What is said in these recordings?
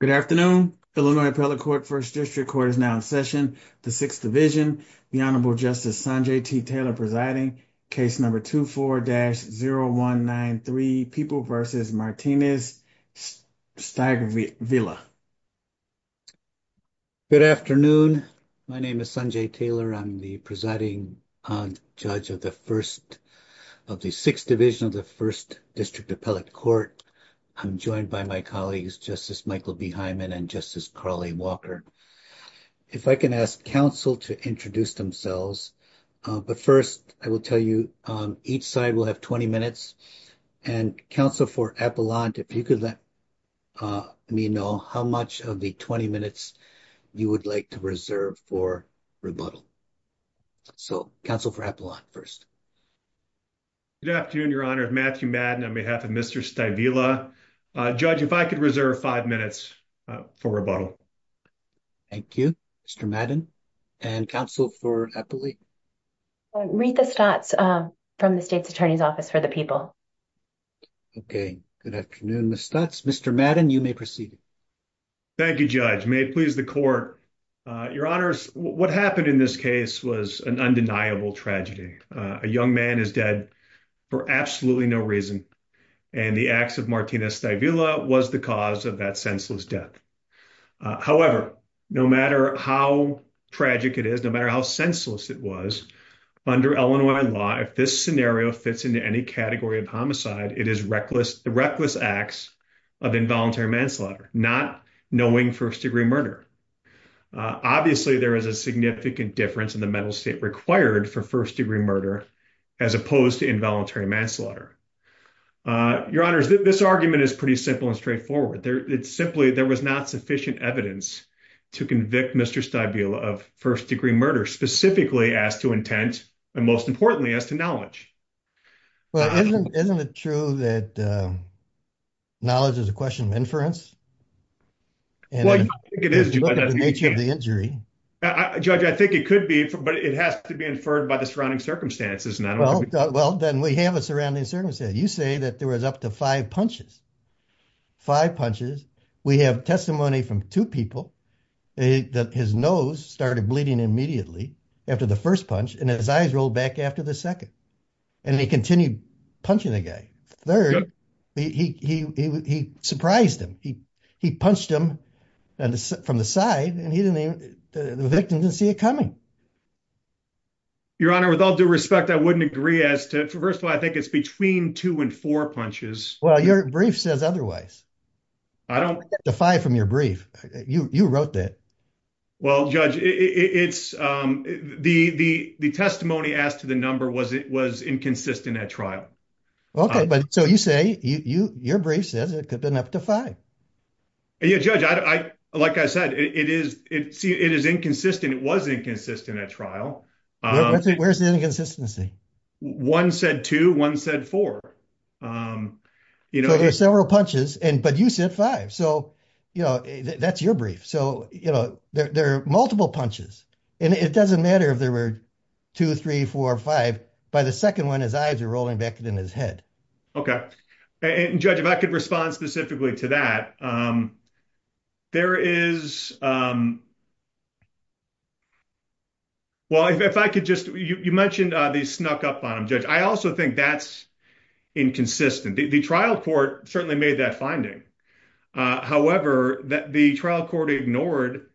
Good afternoon, Illinois Appellate Court, 1st District Court is now in session. The 6th Division, the Honorable Justice Sanjay T. Taylor presiding, case number 24-0193, People v. Martinez, Steigvila. Good afternoon. My name is Sanjay Taylor. I'm the presiding judge of the 1st of the 6th Division of the 1st District Appellate Court. I'm joined by my colleagues, Justice Michael B. Hyman and Justice Carly Walker. If I can ask counsel to introduce themselves. But first, I will tell you, each side will have 20 minutes and counsel for Appellant, if you could let me know how much of the 20 minutes you would like to reserve for rebuttal. So, counsel for Appellant first. Good afternoon, Your Honor. Matthew Madden on behalf of Mr. Steigvila. Judge, if I could reserve five minutes for rebuttal. Thank you. Mr. Madden and counsel for Appellate. Rita Stutz from the State's Attorney's Office for the People. Okay. Good afternoon, Ms. Stutz. Mr. Madden, you may proceed. Thank you, Judge. May it please the court. Your Honors, what happened in this case was an undeniable tragedy. A young man is dead for absolutely no reason. And the acts of Martinez-Steigvila was the cause of that senseless death. However, no matter how tragic it is, no matter how senseless it was, under Illinois law, if this scenario fits into any category of homicide, it is reckless acts of involuntary manslaughter, not knowing first degree murder. Obviously, there is a significant difference in the mental state required for first degree murder, as opposed to involuntary manslaughter. Your Honors, this argument is pretty simple and straightforward. It's simply there was not sufficient evidence to convict Mr. Steigvila of first degree murder, specifically as to intent, and most importantly, as to knowledge. Well, isn't it true that knowledge is a question of inference? Well, I don't think it is, Judge. Judging by the nature of the injury. Judge, I think it could be, but it has to be inferred by the surrounding circumstances. Well, then we have a surrounding circumstance. You say that there was up to five punches. Five punches. We have testimony from two people that his nose started bleeding immediately after the first punch, and his eyes rolled back after the second. And he continued punching the guy. Third, he surprised him. He punched him from the side, and the victim didn't see it coming. Your Honor, with all due respect, I wouldn't agree as to... First of all, I think it's between two and four punches. Well, your brief says otherwise. I don't... The five from your brief. You wrote that. Well, Judge, it's... The testimony asked to the number was inconsistent at trial. Okay, but so you say your brief says it could have been up to five. Yeah, Judge, like I said, it is inconsistent. It was inconsistent at trial. Where's the inconsistency? One said two. One said four. So there are several punches, but you said five. So, you know, that's your brief. So, you know, there are multiple punches, and it doesn't matter if there were two, three, four, five. By the second one, his eyes were rolling back in his head. Okay. And, Judge, if I could respond specifically to that, there is... Well, if I could just... You mentioned they snuck up on him, Judge. I also think that's inconsistent. The trial court certainly made that finding. However, the trial court ignored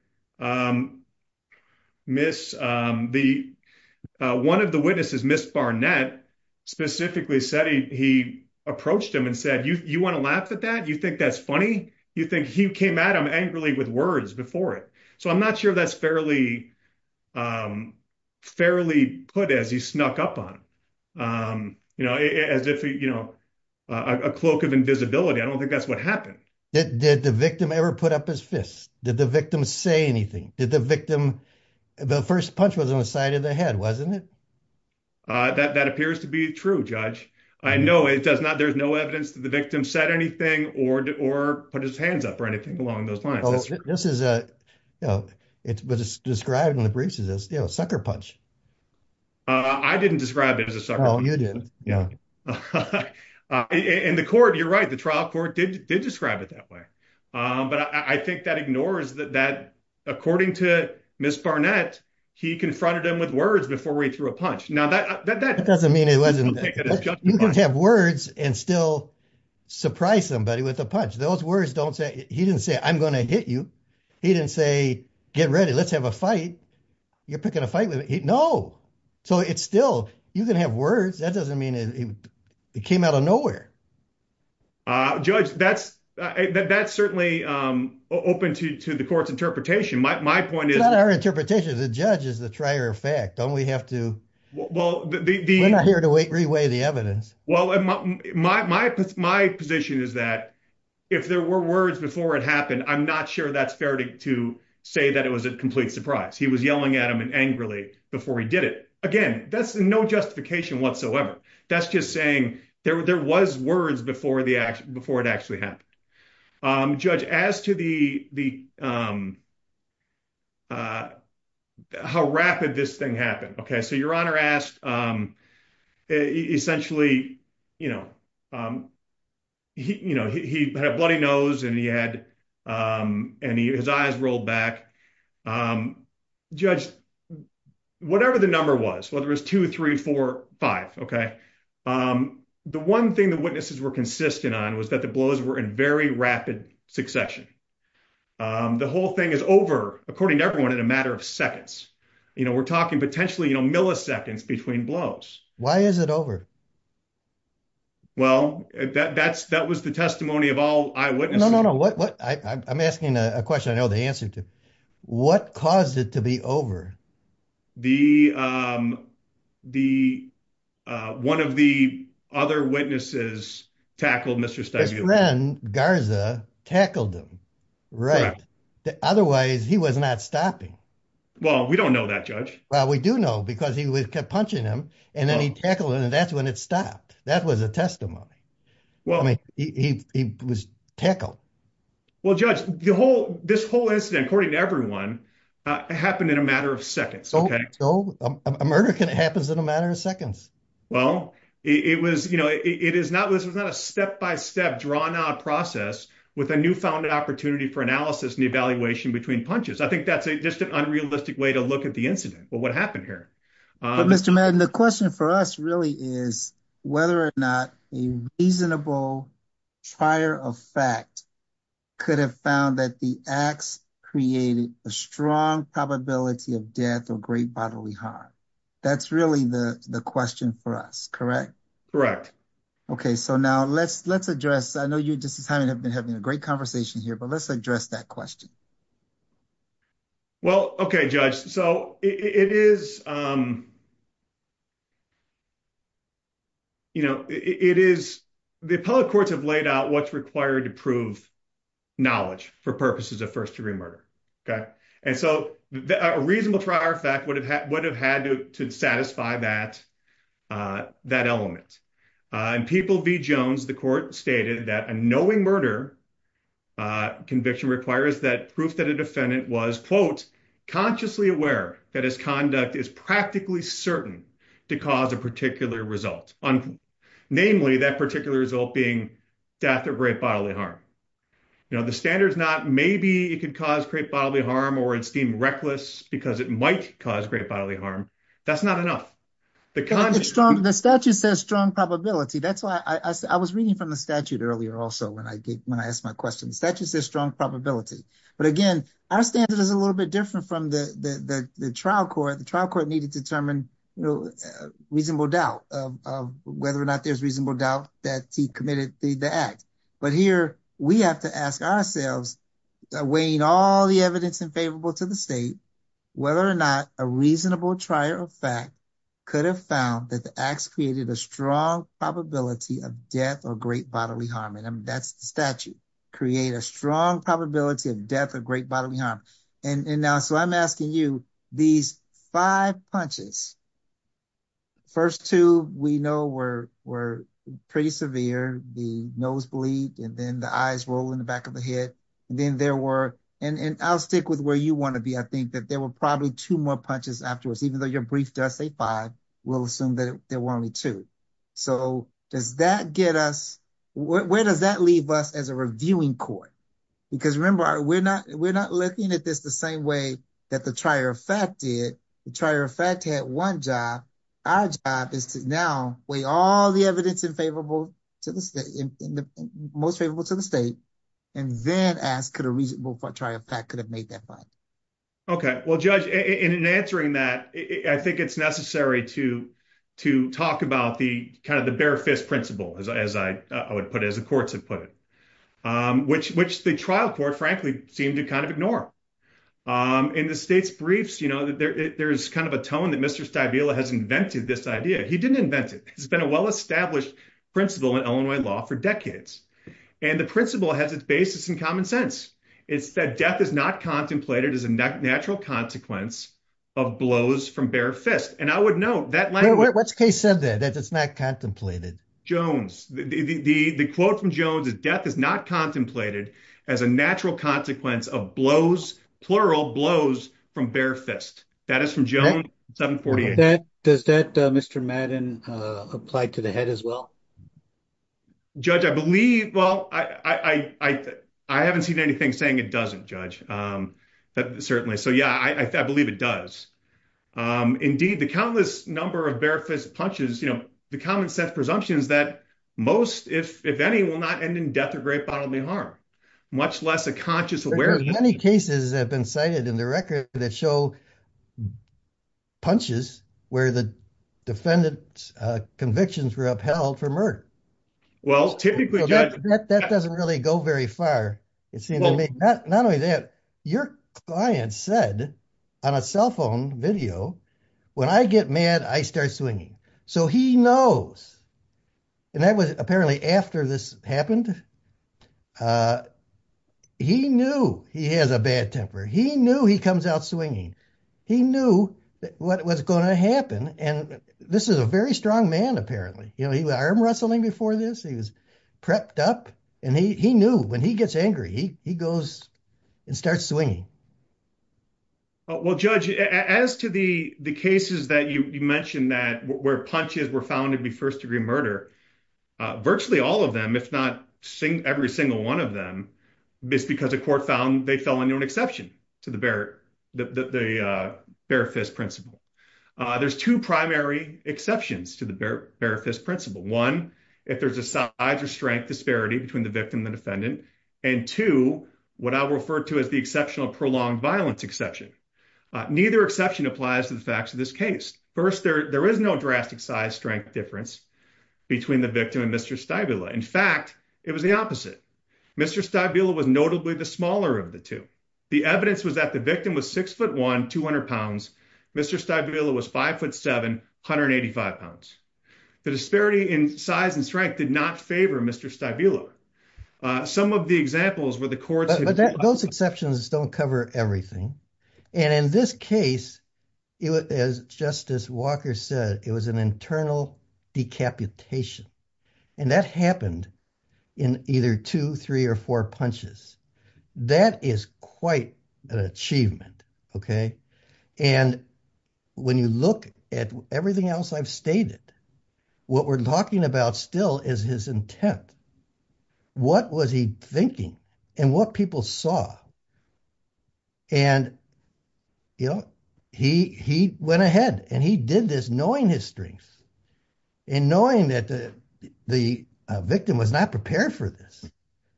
Miss... One of the witnesses, Miss Barnett, specifically said he approached him and said, You want to laugh at that? You think that's funny? You think he came at him angrily with words before it? So I'm not sure that's fairly put as he snuck up on him. You know, as if, you know, a cloak of invisibility. I don't think that's what happened. Did the victim ever put up his fists? Did the victim say anything? Did the victim... The first punch was on the side of the head, wasn't it? That appears to be true, Judge. I know it does not... There's no evidence that the victim said anything or put his hands up or anything along those lines. This is a... It was described in the briefs as a sucker punch. I didn't describe it as a sucker punch. No, you didn't. And the court, you're right. The trial court did describe it that way. But I think that ignores that, according to Miss Barnett, he confronted him with words before he threw a punch. That doesn't mean it wasn't... You can have words and still surprise somebody with a punch. Those words don't say... He didn't say, I'm going to hit you. He didn't say, get ready. Let's have a fight. You're picking a fight with me. No. So it's still... You can have words. That doesn't mean... It came out of nowhere. Judge, that's certainly open to the court's interpretation. My point is... It's not our interpretation. The judge is the trier of fact. Don't we have to... Well, the... We're not here to reweigh the evidence. Well, my position is that if there were words before it happened, I'm not sure that's fair to say that it was a complete surprise. He was yelling at him angrily before he did it. Again, that's no justification whatsoever. That's just saying there was words before it actually happened. Judge, as to the... How rapid this thing happened. Okay, so Your Honor asked... Essentially, you know, he had a bloody nose and he had... And his eyes rolled back. Judge, whatever the number was, whether it was 2, 3, 4, 5, okay? The one thing the witnesses were consistent on was that the blows were in very rapid succession. The whole thing is over, according to everyone, in a matter of seconds. You know, we're talking potentially, you know, milliseconds between blows. Why is it over? Well, that was the testimony of all eyewitnesses. No, no, no. I'm asking a question I know the answer to. What caused it to be over? The... One of the other witnesses tackled Mr. Stibuli. His friend, Garza, tackled him. Right. Otherwise, he was not stopping. Well, we don't know that, Judge. Well, we do know because he kept punching him and then he tackled him and that's when it stopped. That was a testimony. I mean, he was tackled. Well, Judge, this whole incident, according to everyone, happened in a matter of seconds, okay? A murder happens in a matter of seconds. Well, it was, you know, it was not a step-by-step, drawn-out process with a new-founded opportunity for analysis and evaluation between punches. I think that's just an unrealistic way to look at the incident, what happened here. But, Mr. Madden, the question for us really is whether or not a reasonable trier of fact could have found that the axe created a strong probability of death or great bodily harm. That's really the question for us, correct? Correct. Okay, so now let's address, I know you and Justice Hyman have been having a great conversation here, but let's address that question. Well, okay, Judge. So, it is, you know, it is, the appellate courts have laid out what's required to prove knowledge for purposes of first-degree murder, okay? And so, a reasonable trier of fact would have had to satisfy that element. In People v. Jones, the court stated that a knowing murder conviction requires that proof that a defendant was, quote, consciously aware that his conduct is practically certain to cause a particular result. Namely, that particular result being death or great bodily harm. You know, the standard's not maybe it could cause great bodily harm or it's deemed reckless because it might cause great bodily harm. That's not enough. The statute says strong probability. That's why I was reading from the statute earlier also when I asked my question. The statute says strong probability. But again, our standard is a little bit different from the trial court. The trial court needed to determine, you know, reasonable doubt of whether or not there's reasonable doubt that he committed the act. But here, we have to ask ourselves, weighing all the evidence in favorable to the state, whether or not a reasonable trier of fact could have found that the acts created a strong probability of death or great bodily harm. And that's the statute. Create a strong probability of death or great bodily harm. And now so I'm asking you these five punches. First two we know were pretty severe. The nose bleed and then the eyes roll in the back of the head. And then there were and I'll stick with where you want to be. I think that there were probably two more punches afterwards, even though your brief does say five. We'll assume that there were only two. So does that get us where does that leave us as a reviewing court? Because remember, we're not we're not looking at this the same way that the trier of fact did the trier of fact had one job. Our job is to now weigh all the evidence in favorable to the state in the most favorable to the state and then ask could a reasonable trier of fact could have made that fine. OK, well, judge, in answering that, I think it's necessary to to talk about the kind of the bare fist principle, as I would put it, as the courts have put it, which which the trial court, frankly, seem to kind of ignore. In the state's briefs, you know, there is kind of a tone that Mr. Stabile has invented this idea. He didn't invent it. It's been a well-established principle in Illinois law for decades. And the principle has its basis in common sense. It's that death is not contemplated as a natural consequence of blows from bare fist. And I would note that language case said that it's not contemplated Jones. The quote from Jones is death is not contemplated as a natural consequence of blows, plural blows from bare fist. Does that Mr. Madden apply to the head as well? Judge, I believe. Well, I, I, I, I haven't seen anything saying it doesn't judge that certainly. So, yeah, I believe it does. Indeed, the countless number of bare fist punches, you know, the common sense presumptions that most, if any, will not end in death or great bodily harm, much less a conscious. Many cases have been cited in the record that show punches where the defendant's convictions were upheld for murder. Well, typically, that doesn't really go very far. It seemed to me that not only that, your client said on a cell phone video, when I get mad, I start swinging. So he knows. And that was apparently after this happened. He knew he has a bad temper. He knew he comes out swinging. He knew what was going to happen. And this is a very strong man. Apparently, you know, he was arm wrestling before this. He was prepped up and he knew when he gets angry, he goes and starts swinging. Well, Judge, as to the cases that you mentioned that where punches were found to be first degree murder, virtually all of them, if not every single one of them, because the court found they fell into an exception to the bare, the bare fist principle. There's two primary exceptions to the bare fist principle. One, if there's a size or strength disparity between the victim and the defendant. And two, what I refer to as the exceptional prolonged violence exception. Neither exception applies to the facts of this case. First, there is no drastic size strength difference between the victim and Mr. Stabila. In fact, it was the opposite. Mr. Stabila was notably the smaller of the two. The evidence was that the victim was six foot one, 200 pounds. Mr. Stabila was five foot seven, 185 pounds. The disparity in size and strength did not favor Mr. Stabila. Some of the examples were the courts. Those exceptions don't cover everything. And in this case, it was, as Justice Walker said, it was an internal decapitation. And that happened in either two, three or four punches. That is quite an achievement. Okay. And when you look at everything else I've stated, what we're talking about still is his intent. What was he thinking and what people saw? And, you know, he went ahead and he did this knowing his strengths and knowing that the victim was not prepared for this.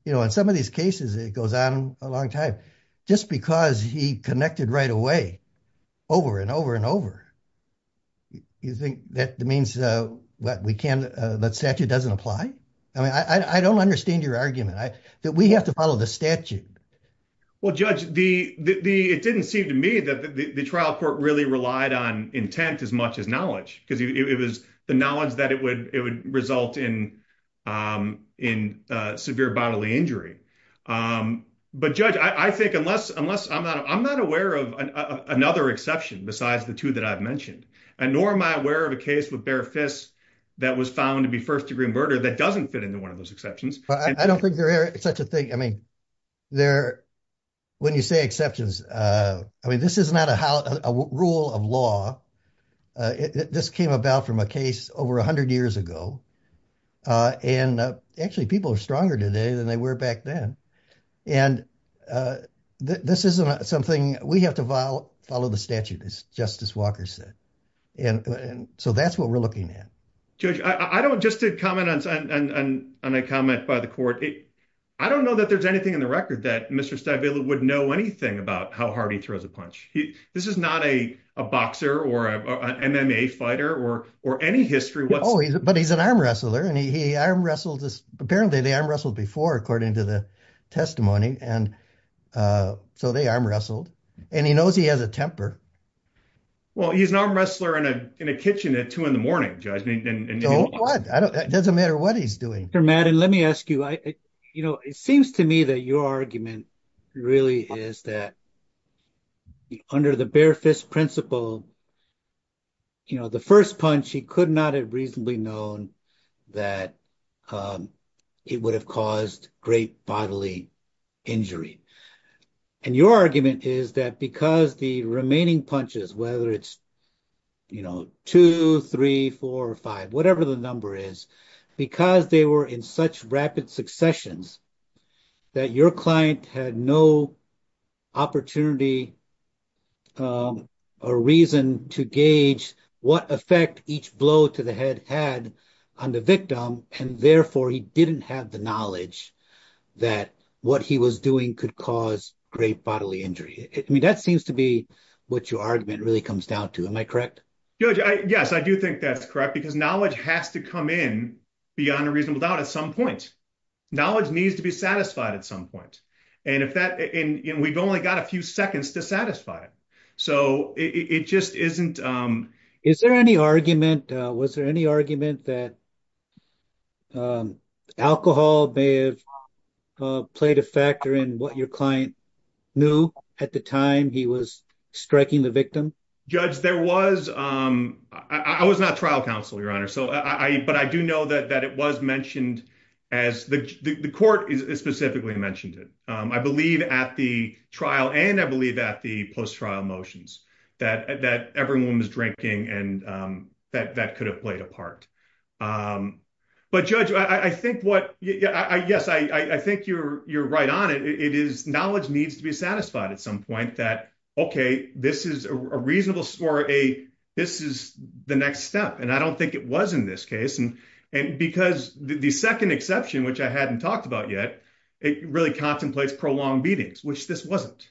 You know, in some of these cases, it goes on a long time, just because he connected right away, over and over and over. You think that means that statute doesn't apply? I mean, I don't understand your argument that we have to follow the statute. Well, Judge, it didn't seem to me that the trial court really relied on intent as much as knowledge, because it was the knowledge that it would result in severe bodily injury. But, Judge, I think unless I'm not aware of another exception besides the two that I've mentioned, nor am I aware of a case with bare fists that was found to be first degree murder that doesn't fit into one of those exceptions. I don't think there is such a thing. I mean, when you say exceptions, I mean, this is not a rule of law. This came about from a case over 100 years ago. And actually, people are stronger today than they were back then. And this isn't something we have to follow the statute, as Justice Walker said. And so that's what we're looking at. Judge, just to comment on a comment by the court, I don't know that there's anything in the record that Mr. Stabile would know anything about how hard he throws a punch. This is not a boxer or an MMA fighter or any history. Oh, but he's an arm wrestler, and he arm wrestled. Apparently, they arm wrestled before, according to the testimony. And so they arm wrestled. And he knows he has a temper. Well, he's an arm wrestler in a kitchen at two in the morning, Judge. Doesn't matter what he's doing. Dr. Madden, let me ask you, you know, it seems to me that your argument really is that under the bare fist principle, you know, the first punch, he could not have reasonably known that it would have caused great bodily injury. And your argument is that because the remaining punches, whether it's, you know, two, three, four, five, whatever the number is, because they were in such rapid successions, that your client had no opportunity or reason to gauge what effect each blow to the head had on the victim. And therefore, he didn't have the knowledge that what he was doing could cause great bodily injury. I mean, that seems to be what your argument really comes down to. Am I correct? Judge, yes, I do think that's correct, because knowledge has to come in beyond a reasonable doubt at some point. Knowledge needs to be satisfied at some point. And if that, and we've only got a few seconds to satisfy it. So it just isn't. Is there any argument, was there any argument that alcohol may have played a factor in what your client knew at the time he was striking the victim? Judge, there was, I was not trial counsel, Your Honor. So I, but I do know that it was mentioned as the court specifically mentioned it. I believe at the trial and I believe that the post-trial motions that everyone was drinking and that could have played a part. But Judge, I think what, yes, I think you're right on it. It is, knowledge needs to be satisfied at some point that, okay, this is a reasonable, or a, this is the next step. And I don't think it was in this case. And because the second exception, which I hadn't talked about yet, it really contemplates prolonged beatings, which this wasn't.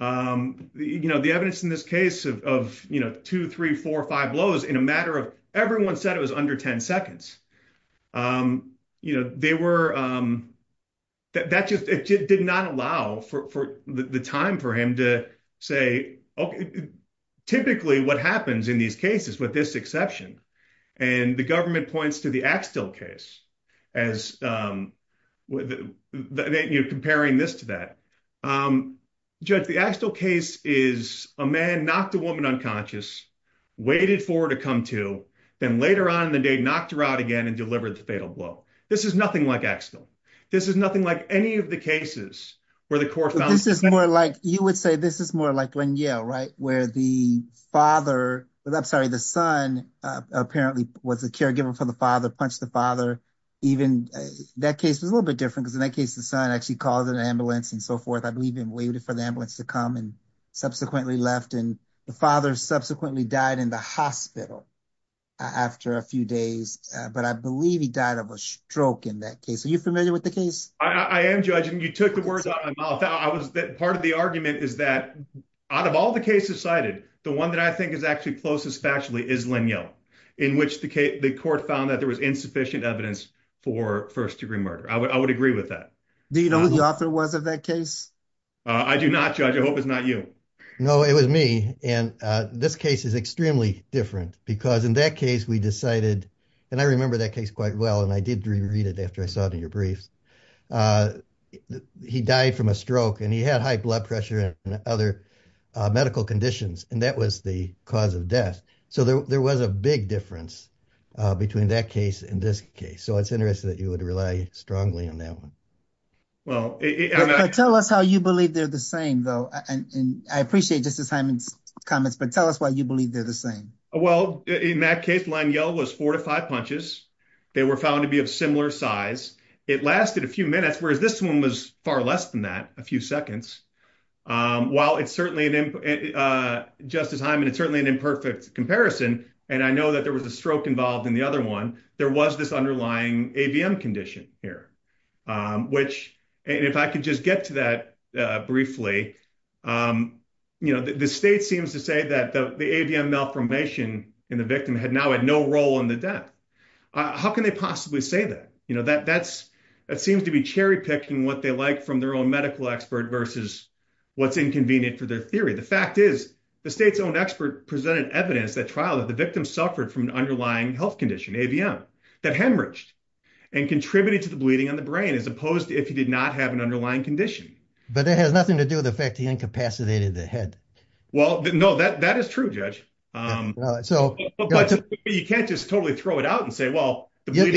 You know, the evidence in this case of, you know, two, three, four, five blows in a matter of, everyone said it was under 10 seconds. You know, they were, that just did not allow for the time for him to say, okay, typically what happens in these cases with this exception, and the government points to the Axtell case as, you know, comparing this to that. Judge, the Axtell case is a man knocked a woman unconscious, waited for her to come to, then later on in the day, knocked her out again and delivered the fatal blow. This is nothing like Axtell. This is nothing like any of the cases where the court found. This is more like, you would say this is more like when, yeah, right, where the father, I'm sorry, the son apparently was a caregiver for the father, punched the father. Even that case was a little bit different because in that case, the son actually called an ambulance and so forth. I believe he waited for the ambulance to come and subsequently left and the father subsequently died in the hospital after a few days. But I believe he died of a stroke in that case. Are you familiar with the case? I am, Judge, and you took the words out of my mouth. Part of the argument is that out of all the cases cited, the one that I think is actually closest factually is Lanyo, in which the court found that there was insufficient evidence for first degree murder. I would agree with that. Do you know who the author was of that case? I do not, Judge. I hope it's not you. No, it was me. And this case is extremely different because in that case, we decided, and I remember that case quite well, and I did reread it after I saw it in your briefs. He died from a stroke and he had high blood pressure and other medical conditions, and that was the cause of death. So there was a big difference between that case and this case. So it's interesting that you would rely strongly on that one. Tell us how you believe they're the same, though. I appreciate Justice Hyman's comments, but tell us why you believe they're the same. Well, in that case, Lanyo was four to five punches. They were found to be of similar size. It lasted a few minutes, whereas this one was far less than that, a few seconds. While it's certainly, Justice Hyman, it's certainly an imperfect comparison, and I know that there was a stroke involved in the other one, there was this underlying AVM condition here, which, and if I could just get to that briefly, the state seems to say that the AVM malformation in the victim now had no role in the death. How can they possibly say that? That seems to be cherry-picking what they like from their own medical expert versus what's inconvenient for their theory. The fact is, the state's own expert presented evidence at trial that the victim suffered from an underlying health condition, AVM, that hemorrhaged and contributed to the bleeding on the brain, as opposed to if he did not have an underlying condition. But that has nothing to do with the fact that he incapacitated the head. Well, no, that is true, Judge. But you can't just totally throw it out and say, well, the bleeding…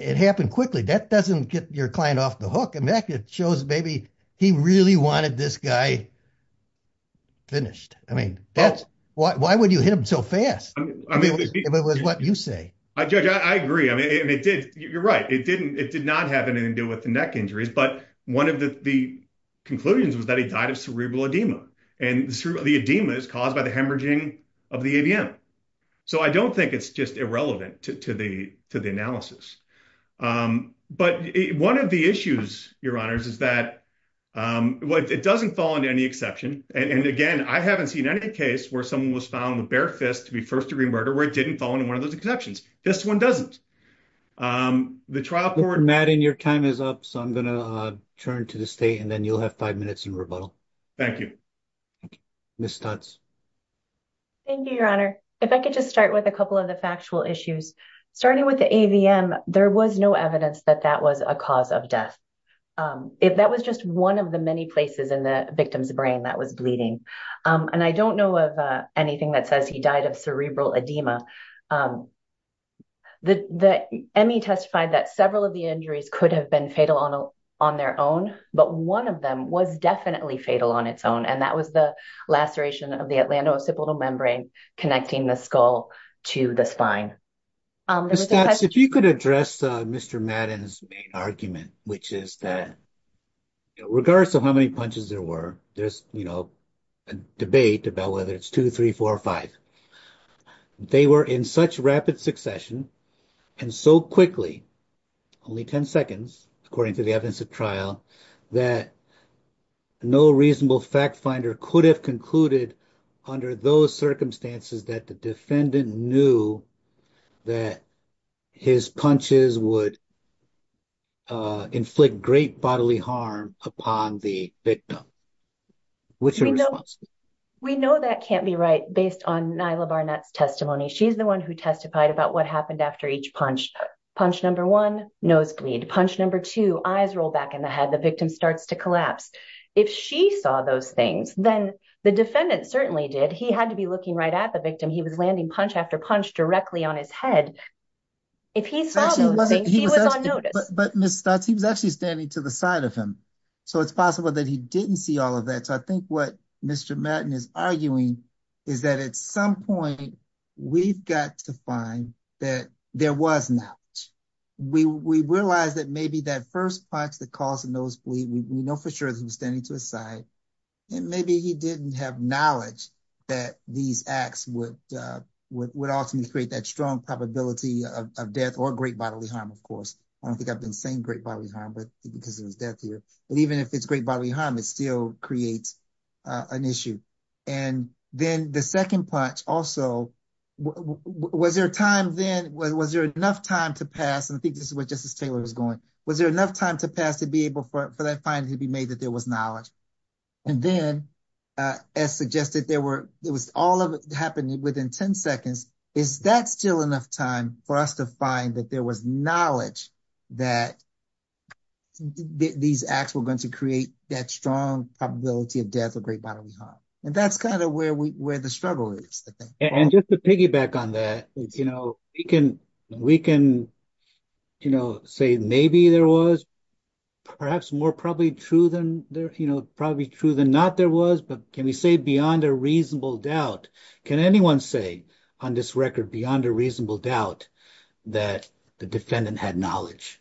It happened quickly. That doesn't get your client off the hook. In fact, it shows maybe he really wanted this guy finished. I mean, why would you hit him so fast, if it was what you say? I agree. I mean, you're right. It did not have anything to do with the neck injuries. But one of the conclusions was that he died of cerebral edema. And the edema is caused by the hemorrhaging of the AVM. So I don't think it's just irrelevant to the analysis. But one of the issues, Your Honors, is that it doesn't fall into any exception. And again, I haven't seen any case where someone was found with bare fists to be first-degree murderer where it didn't fall into one of those exceptions. This one doesn't. The trial court… Madden, your time is up. So I'm going to turn to the state, and then you'll have five minutes in rebuttal. Thank you. Ms. Stutz. Thank you, Your Honor. If I could just start with a couple of the factual issues. Starting with the AVM, there was no evidence that that was a cause of death. That was just one of the many places in the victim's brain that was bleeding. And I don't know of anything that says he died of cerebral edema. The ME testified that several of the injuries could have been fatal on their own, but one of them was definitely fatal on its own. And that was the laceration of the atlantocipital membrane connecting the skull to the spine. Ms. Stutz, if you could address Mr. Madden's main argument, which is that regardless of how many punches there were, there's a debate about whether it's two, three, four, or five. They were in such rapid succession and so quickly, only 10 seconds, according to the evidence of trial, that no reasonable fact finder could have concluded under those circumstances that the defendant knew that his punches would inflict great bodily harm upon the victim. We know that can't be right based on Nyla Barnett's testimony. She's the one who testified about what happened after each punch. Punch number one, nosebleed. Punch number two, eyes roll back in the head. The victim starts to collapse. If she saw those things, then the defendant certainly did. He had to be looking right at the victim. He was landing punch after punch directly on his head. If he saw those things, he was on notice. But Ms. Stutz, he was actually standing to the side of him. So it's possible that he didn't see all of that. So I think what Mr. Madden is arguing is that at some point, we've got to find that there was knowledge. We realize that maybe that first punch that caused the nosebleed, we know for sure that he was standing to his side. And maybe he didn't have knowledge that these acts would ultimately create that strong probability of death or great bodily harm, of course. I don't think I've been saying great bodily harm because of his death here. But even if it's great bodily harm, it still creates an issue. And then the second punch also, was there time then, was there enough time to pass? And I think this is where Justice Taylor is going. Was there enough time to pass to be able for that finding to be made that there was knowledge? And then, as suggested, all of it happened within 10 seconds. Is that still enough time for us to find that there was knowledge that these acts were going to create that strong probability of death or great bodily harm? And that's kind of where the struggle is, I think. And just to piggyback on that, we can say maybe there was, perhaps more probably true than not there was. But can we say beyond a reasonable doubt? Can anyone say on this record beyond a reasonable doubt that the defendant had knowledge?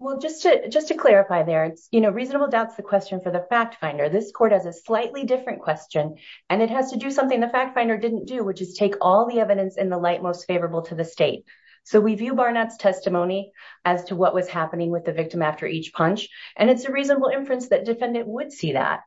Well, just to clarify there, reasonable doubt's the question for the fact finder. This court has a slightly different question, and it has to do something the fact finder didn't do, which is take all the evidence in the light most favorable to the state. So we view Barnett's testimony as to what was happening with the victim after each punch, and it's a reasonable inference that defendant would see that.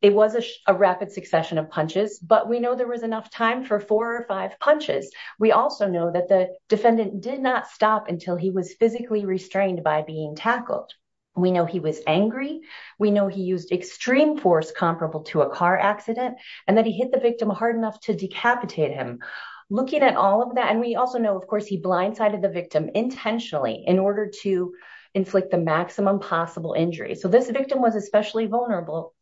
It was a rapid succession of punches, but we know there was enough time for four or five punches. We also know that the defendant did not stop until he was physically restrained by being tackled. We know he was angry. We know he used extreme force comparable to a car accident, and that he hit the victim hard enough to decapitate him. Looking at all of that, and we also know, of course, he blindsided the victim intentionally in order to inflict the maximum possible injury. So this victim was especially vulnerable.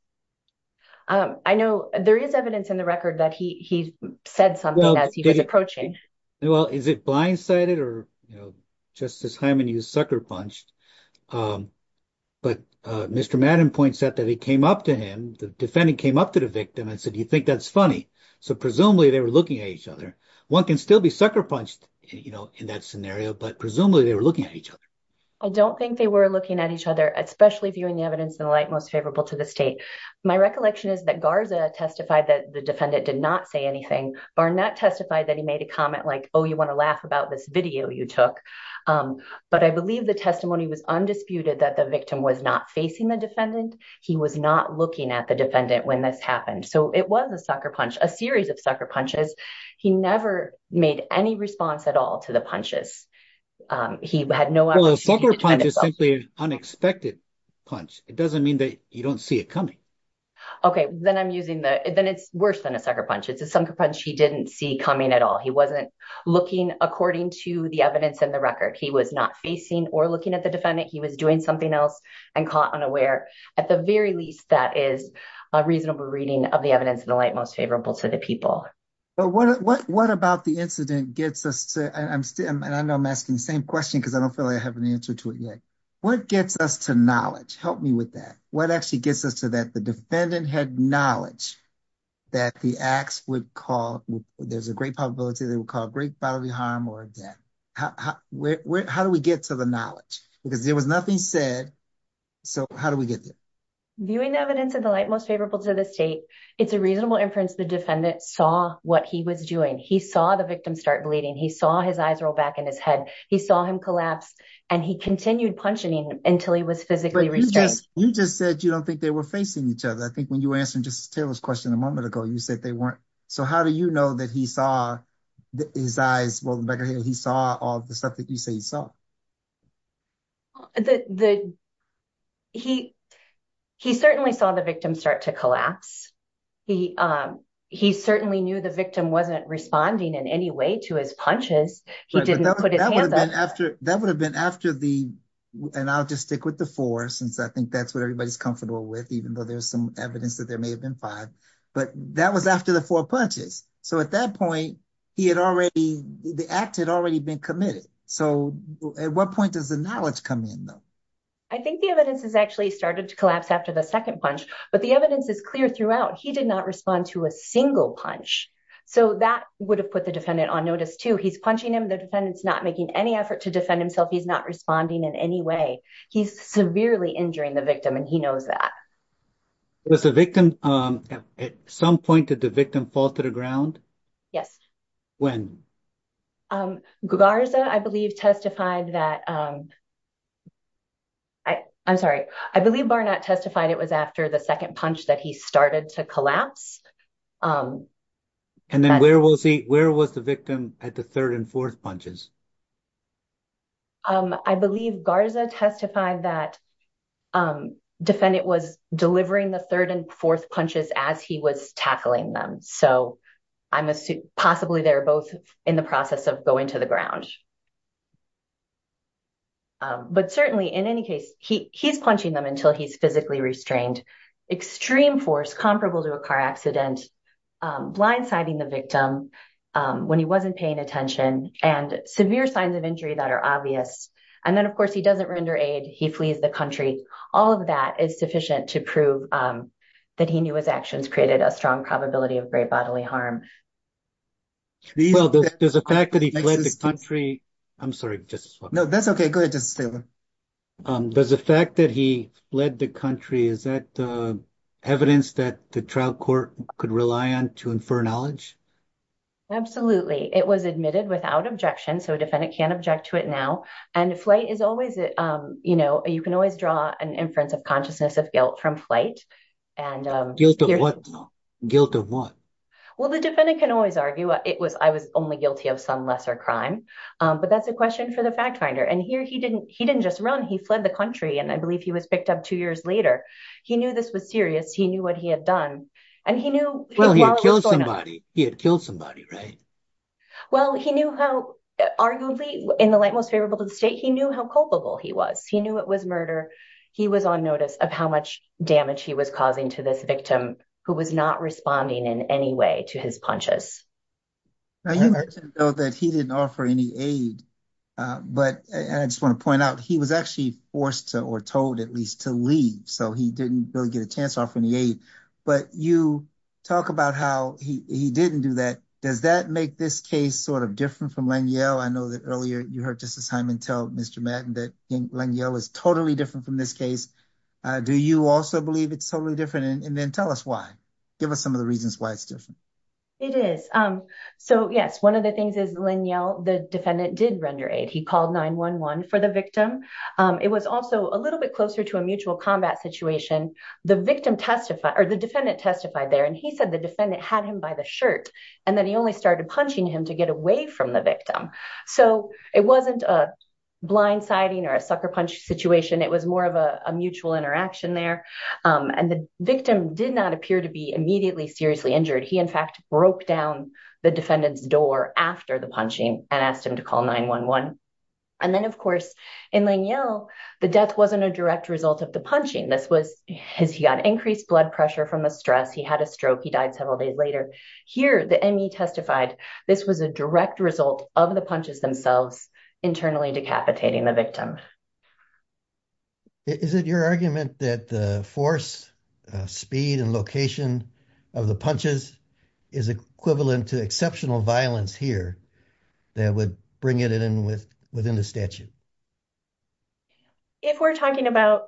I know there is evidence in the record that he said something as he was approaching. Well, is it blindsided or, you know, Justice Hyman, you sucker punched, but Mr. Madden points out that he came up to him, the defendant came up to the victim and said, you think that's funny. So presumably they were looking at each other. One can still be sucker punched, you know, in that scenario, but presumably they were looking at each other. I don't think they were looking at each other, especially viewing the evidence in the light most favorable to the state. My recollection is that Garza testified that the defendant did not say anything. Barnett testified that he made a comment like, oh, you want to laugh about this video you took. But I believe the testimony was undisputed that the victim was not facing the defendant. He was not looking at the defendant when this happened. So it was a sucker punch, a series of sucker punches. He never made any response at all to the punches. He had no. A sucker punch is simply an unexpected punch. It doesn't mean that you don't see it coming. OK, then I'm using the then it's worse than a sucker punch. It's a sucker punch. He didn't see coming at all. He wasn't looking according to the evidence in the record. He was not facing or looking at the defendant. He was doing something else and caught unaware. At the very least, that is a reasonable reading of the evidence in the light most favorable to the people. But what what what about the incident gets us to? And I know I'm asking the same question because I don't feel like I have an answer to it yet. What gets us to knowledge? Help me with that. What actually gets us to that? The defendant had knowledge that the acts would call. There's a great probability they would call great bodily harm or death. How do we get to the knowledge? Because there was nothing said. So how do we get there? Viewing evidence in the light most favorable to the state, it's a reasonable inference. The defendant saw what he was doing. He saw the victim start bleeding. He saw his eyes roll back in his head. He saw him collapse and he continued punching until he was physically restrained. You just said you don't think they were facing each other. I think when you answer just Taylor's question a moment ago, you said they weren't. So how do you know that he saw his eyes? Well, he saw all the stuff that you say you saw. The. He he certainly saw the victim start to collapse. He he certainly knew the victim wasn't responding in any way to his punches. He didn't put it after that would have been after the and I'll just stick with the four since I think that's what everybody's comfortable with, even though there's some evidence that there may have been five. But that was after the four punches. So at that point, he had already the act had already been committed. So at what point does the knowledge come in, though? I think the evidence has actually started to collapse after the second punch. But the evidence is clear throughout. He did not respond to a single punch. So that would have put the defendant on notice to he's punching him. The defendant's not making any effort to defend himself. He's not responding in any way. He's severely injuring the victim. And he knows that. Was the victim at some point did the victim fall to the ground? Yes. When Garza, I believe, testified that. I'm sorry, I believe Barnett testified it was after the second punch that he started to collapse. And then where was he where was the victim at the third and fourth punches? I believe Garza testified that defendant was delivering the third and fourth punches as he was tackling them. So I'm assuming possibly they're both in the process of going to the ground. But certainly in any case, he he's punching them until he's physically restrained, extreme force comparable to a car accident, blindsiding the victim when he wasn't paying attention and severe signs of injury that are obvious. And then, of course, he doesn't render aid. He flees the country. All of that is sufficient to prove that he knew his actions created a strong probability of great bodily harm. Well, there's a fact that he fled the country. I'm sorry. No, that's OK. Go ahead. Does the fact that he fled the country, is that evidence that the trial court could rely on to infer knowledge? Absolutely. It was admitted without objection. So a defendant can object to it now. And the flight is always, you know, you can always draw an inference of consciousness of guilt from flight and guilt of what? Well, the defendant can always argue it was I was only guilty of some lesser crime. But that's a question for the fact finder. And here he didn't he didn't just run. He fled the country. And I believe he was picked up two years later. He knew this was serious. He knew what he had done and he knew he had killed somebody. He had killed somebody. Right. Well, he knew how arguably in the light most favorable to the state, he knew how culpable he was. He knew it was murder. He was on notice of how much damage he was causing to this victim who was not responding in any way to his punches. I know that he didn't offer any aid, but I just want to point out he was actually forced to or told at least to leave. So he didn't really get a chance to offer any aid. But you talk about how he didn't do that. Does that make this case sort of different from Lanyell? I know that earlier you heard Justice Hyman tell Mr. Madden that Lanyell is totally different from this case. Do you also believe it's totally different? And then tell us why. Give us some of the reasons why it's different. It is. So, yes, one of the things is Lanyell. The defendant did render aid. He called 9-1-1 for the victim. It was also a little bit closer to a mutual combat situation. The victim testified or the defendant testified there. And he said the defendant had him by the shirt. And then he only started punching him to get away from the victim. So it wasn't a blind siding or a sucker punch situation. It was more of a mutual interaction there. And the victim did not appear to be immediately seriously injured. He, in fact, broke down the defendant's door after the punching and asked him to call 9-1-1. And then, of course, in Lanyell, the death wasn't a direct result of the punching. This was because he got increased blood pressure from the stress. He had a stroke. He died several days later. Here, the M.E. testified this was a direct result of the punches themselves internally decapitating the victim. Is it your argument that the force, speed and location of the punches is equivalent to exceptional violence here that would bring it in within the statute? If we're talking about,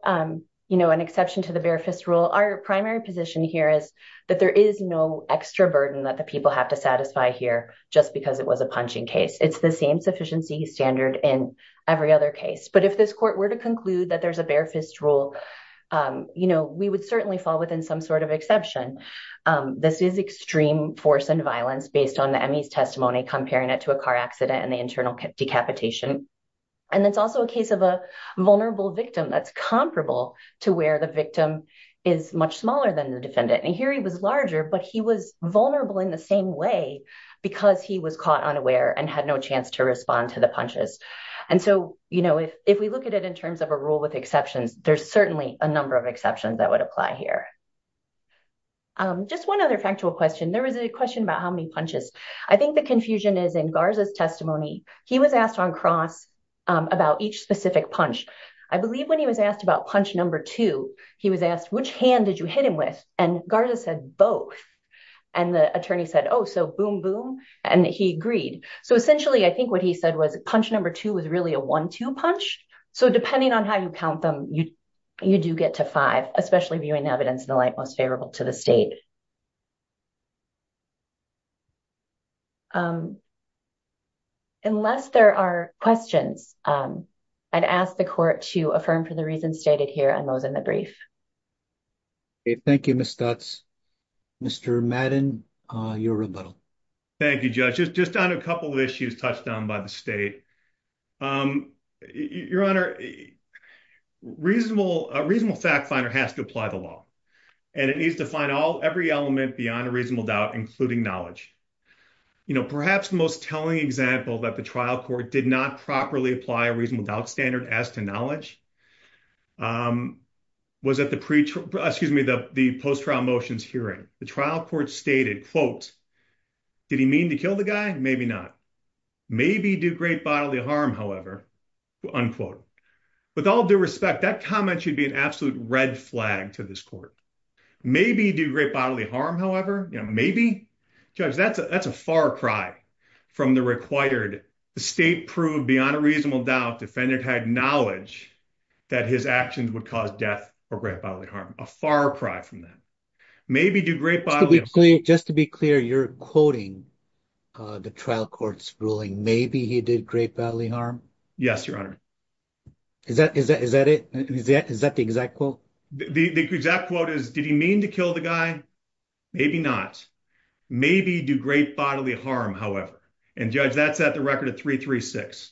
you know, an exception to the bare fist rule, our primary position here is that there is no extra burden that the people have to satisfy here just because it was a punching case. It's the same sufficiency standard in every other case. But if this court were to conclude that there's a bare fist rule, you know, we would certainly fall within some sort of exception. This is extreme force and violence based on the M.E.'s testimony comparing it to a car accident and the internal decapitation. And it's also a case of a vulnerable victim that's comparable to where the victim is much smaller than the defendant. And here he was larger, but he was vulnerable in the same way because he was caught unaware and had no chance to respond to the punches. And so, you know, if we look at it in terms of a rule with exceptions, there's certainly a number of exceptions that would apply here. Just one other factual question. There was a question about how many punches. I think the confusion is in Garza's testimony. He was asked on cross about each specific punch. I believe when he was asked about punch number two, he was asked, which hand did you hit him with? And Garza said both. And the attorney said, oh, so boom, boom. And he agreed. So essentially, I think what he said was punch number two was really a one two punch. So depending on how you count them, you do get to five, especially viewing evidence in the light most favorable to the state. Unless there are questions, I'd ask the court to affirm for the reasons stated here and those in the brief. Thank you, Ms. Stutz. Mr. Madden, your rebuttal. Thank you, Judge. Just on a couple of issues touched on by the state. Your Honor, a reasonable fact finder has to apply the law and it needs to find all every element beyond a reasonable doubt, including knowledge. You know, perhaps the most telling example that the trial court did not properly apply a reasonable doubt standard as to knowledge. Was that the preacher? Excuse me, the post-trial motions hearing the trial court stated, quote, did he mean to kill the guy? Maybe not. Maybe do great bodily harm, however, unquote. With all due respect, that comment should be an absolute red flag to this court. Maybe do great bodily harm, however. Judge, that's a that's a far cry from the required state proved beyond a reasonable doubt defendant had knowledge that his actions would cause death or great bodily harm. A far cry from that. Maybe do great bodily harm. Just to be clear, you're quoting the trial court's ruling. Maybe he did great bodily harm. Yes, Your Honor. Is that is that is that it? Is that the exact quote? The exact quote is, did he mean to kill the guy? Maybe not. Maybe do great bodily harm, however. And judge, that's at the record of three, three, six.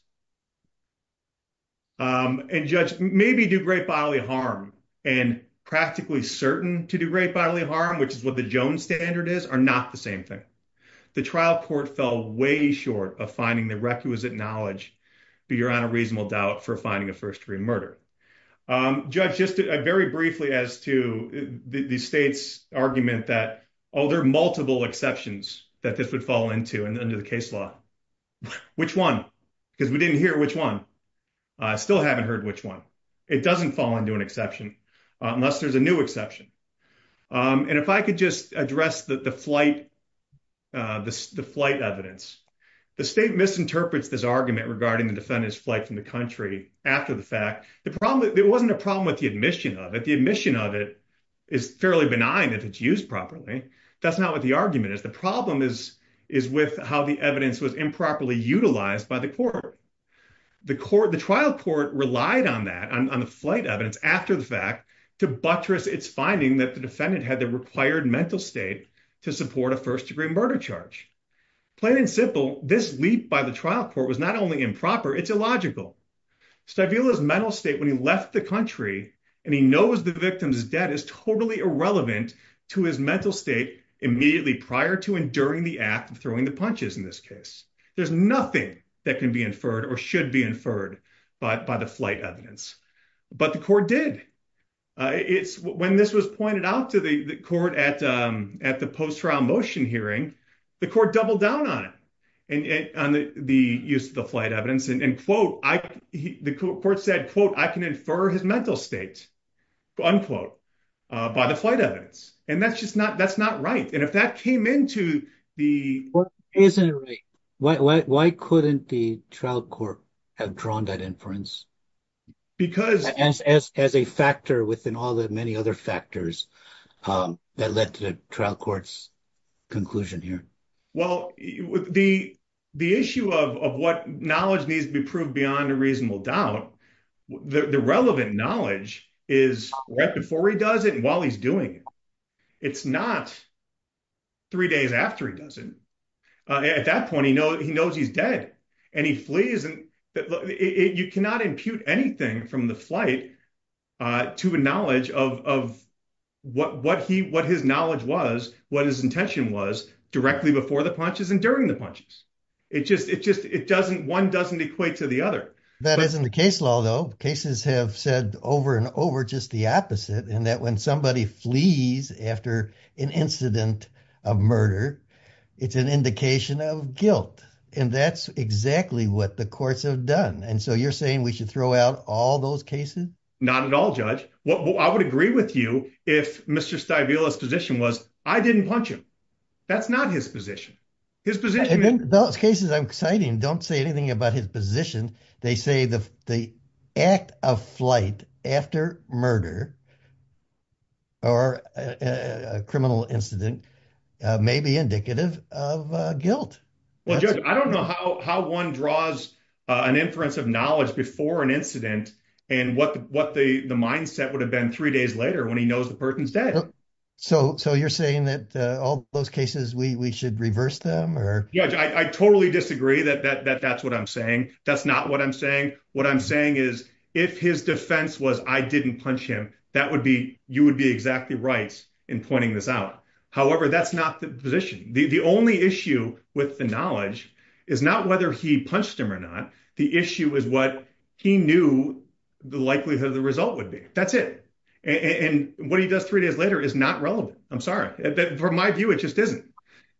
And judge, maybe do great bodily harm and practically certain to do great bodily harm, which is what the Jones standard is, are not the same thing. The trial court fell way short of finding the requisite knowledge. You're on a reasonable doubt for finding a first degree murder. Judge, just very briefly as to the state's argument that other multiple exceptions that this would fall into and under the case law. Which one? Because we didn't hear which one. I still haven't heard which one. It doesn't fall into an exception unless there's a new exception. And if I could just address the flight, the flight evidence, the state misinterprets this argument regarding the defendant's flight from the country after the fact. The problem, it wasn't a problem with the admission of it. The admission of it is fairly benign if it's used properly. That's not what the argument is. The problem is, is with how the evidence was improperly utilized by the court. The trial court relied on that, on the flight evidence after the fact, to buttress its finding that the defendant had the required mental state to support a first degree murder charge. Plain and simple, this leap by the trial court was not only improper, it's illogical. Stavrila's mental state when he left the country and he knows the victim's debt is totally irrelevant to his mental state immediately prior to and during the act of throwing the punches in this case. There's nothing that can be inferred or should be inferred by the flight evidence. But the court did. When this was pointed out to the court at the post-trial motion hearing, the court doubled down on it, on the use of the flight evidence. And the court said, quote, I can infer his mental state, unquote, by the flight evidence. And that's just not, that's not right. And if that came into the... Isn't it right? Why couldn't the trial court have drawn that inference? Because... As a factor within all the many other factors that led to the trial court's conclusion here. Well, the issue of what knowledge needs to be proved beyond a reasonable doubt, the relevant knowledge is right before he does it and while he's doing it. It's not three days after he does it. At that point, he knows he's dead and he flees. You cannot impute anything from the flight to a knowledge of what his knowledge was, what his intention was directly before the punches and during the punches. It just, it doesn't, one doesn't equate to the other. That isn't the case law, though. Cases have said over and over just the opposite and that when somebody flees after an incident of murder, it's an indication of guilt. And that's exactly what the courts have done. And so you're saying we should throw out all those cases? Not at all, Judge. I would agree with you if Mr. Stabile's position was, I didn't punch him. That's not his position. Those cases I'm citing don't say anything about his position. They say the act of flight after murder or a criminal incident may be indicative of guilt. Well, Judge, I don't know how one draws an inference of knowledge before an incident and what the mindset would have been three days later when he knows the person's dead. So you're saying that all those cases, we should reverse them? Judge, I totally disagree that that's what I'm saying. That's not what I'm saying. What I'm saying is if his defense was I didn't punch him, that would be, you would be exactly right in pointing this out. However, that's not the position. The only issue with the knowledge is not whether he punched him or not. The issue is what he knew the likelihood of the result would be. That's it. And what he does three days later is not relevant. I'm sorry that for my view, it just isn't.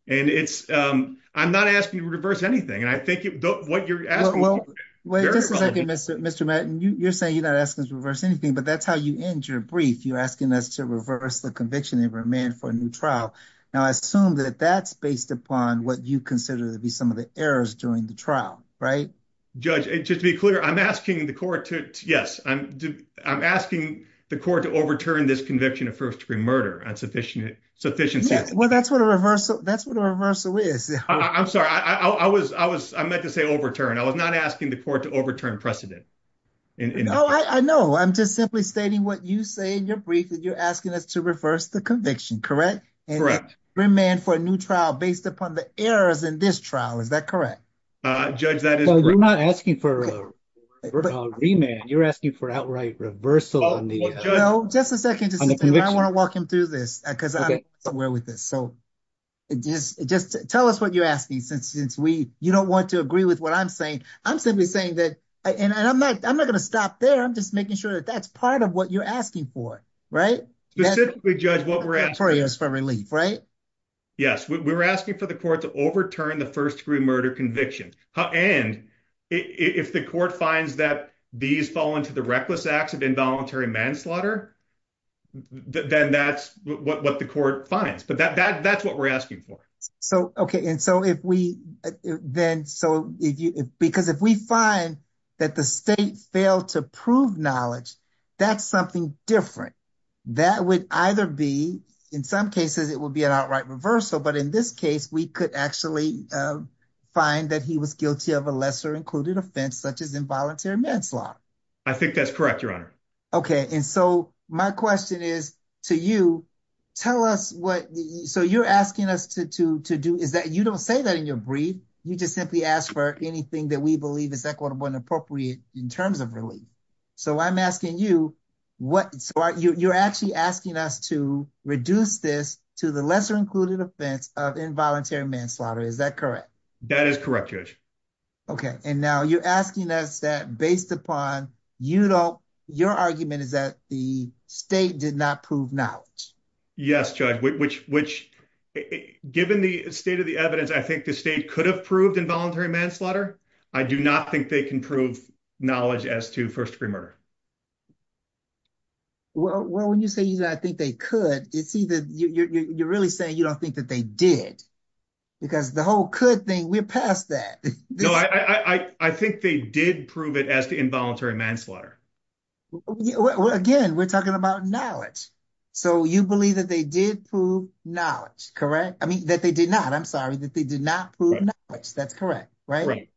And it's I'm not asking you to reverse anything. And I think what you're asking. Well, wait a second, Mr. Mr. Matt, you're saying you're not asking us to reverse anything, but that's how you end your brief. You're asking us to reverse the conviction of a man for a new trial. Now, I assume that that's based upon what you consider to be some of the errors during the trial. Right, Judge? Just to be clear, I'm asking the court to. Yes, I'm I'm asking the court to overturn this conviction of first degree murder and sufficient sufficiency. Well, that's what a reversal. That's what a reversal is. I'm sorry. I was I was I meant to say overturn. I was not asking the court to overturn precedent. No, I know. I'm just simply stating what you say in your brief that you're asking us to reverse the conviction. Correct. Correct. Remand for a new trial based upon the errors in this trial. Is that correct? Judge, that is not asking for a remand. You're asking for outright reversal. No, just a second. I want to walk him through this because I'm aware with this. So just just tell us what you're asking since since we you don't want to agree with what I'm saying. I'm simply saying that and I'm not I'm not going to stop there. I'm just making sure that that's part of what you're asking for. Right. Yes, we were asking for the court to overturn the first degree murder conviction. And if the court finds that these fall into the reckless acts of involuntary manslaughter, then that's what the court finds. But that that's what we're asking for. So. OK. And so if we then so because if we find that the state failed to prove knowledge, that's something different. That would either be in some cases it would be an outright reversal. But in this case, we could actually find that he was guilty of a lesser included offense such as involuntary manslaughter. I think that's correct, Your Honor. OK. And so my question is to you, tell us what. So you're asking us to to to do is that you don't say that in your brief. You just simply ask for anything that we believe is equitable and appropriate in terms of relief. So I'm asking you what you're actually asking us to reduce this to the lesser included offense of involuntary manslaughter. Is that correct? That is correct, Judge. OK. And now you're asking us that based upon, you know, your argument is that the state did not prove knowledge. Yes, Judge, which which given the state of the evidence, I think the state could have proved involuntary manslaughter. I do not think they can prove knowledge as to first degree murder. Well, when you say that, I think they could see that you're really saying you don't think that they did because the whole could thing, we're past that. I think they did prove it as the involuntary manslaughter. Again, we're talking about knowledge. So you believe that they did prove knowledge. Correct. I mean, that they did not. I'm sorry that they did not prove. That's correct. Right.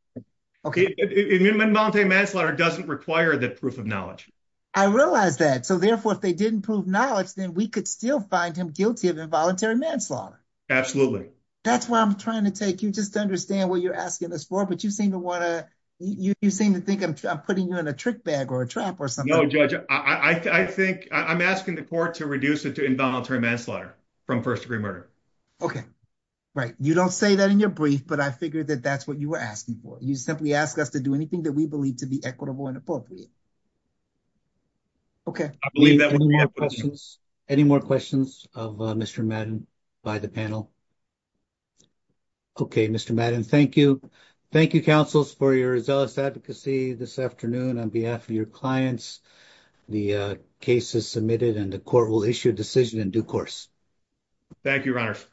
OK. Involuntary manslaughter doesn't require that proof of knowledge. I realize that. So therefore, if they didn't prove knowledge, then we could still find him guilty of involuntary manslaughter. Absolutely. That's why I'm trying to take you just to understand what you're asking us for. But you seem to want to you seem to think I'm putting you in a trick bag or a trap or something. Judge, I think I'm asking the court to reduce it to involuntary manslaughter from first degree murder. OK, right. You don't say that in your brief, but I figured that that's what you were asking for. You simply ask us to do anything that we believe to be equitable and appropriate. OK, I believe that any more questions of Mr. Madden by the panel. OK, Mr. Madden, thank you. Thank you, counsels, for your zealous advocacy this afternoon on behalf of your clients. The case is submitted and the court will issue a decision in due course. Thank you, Your Honor.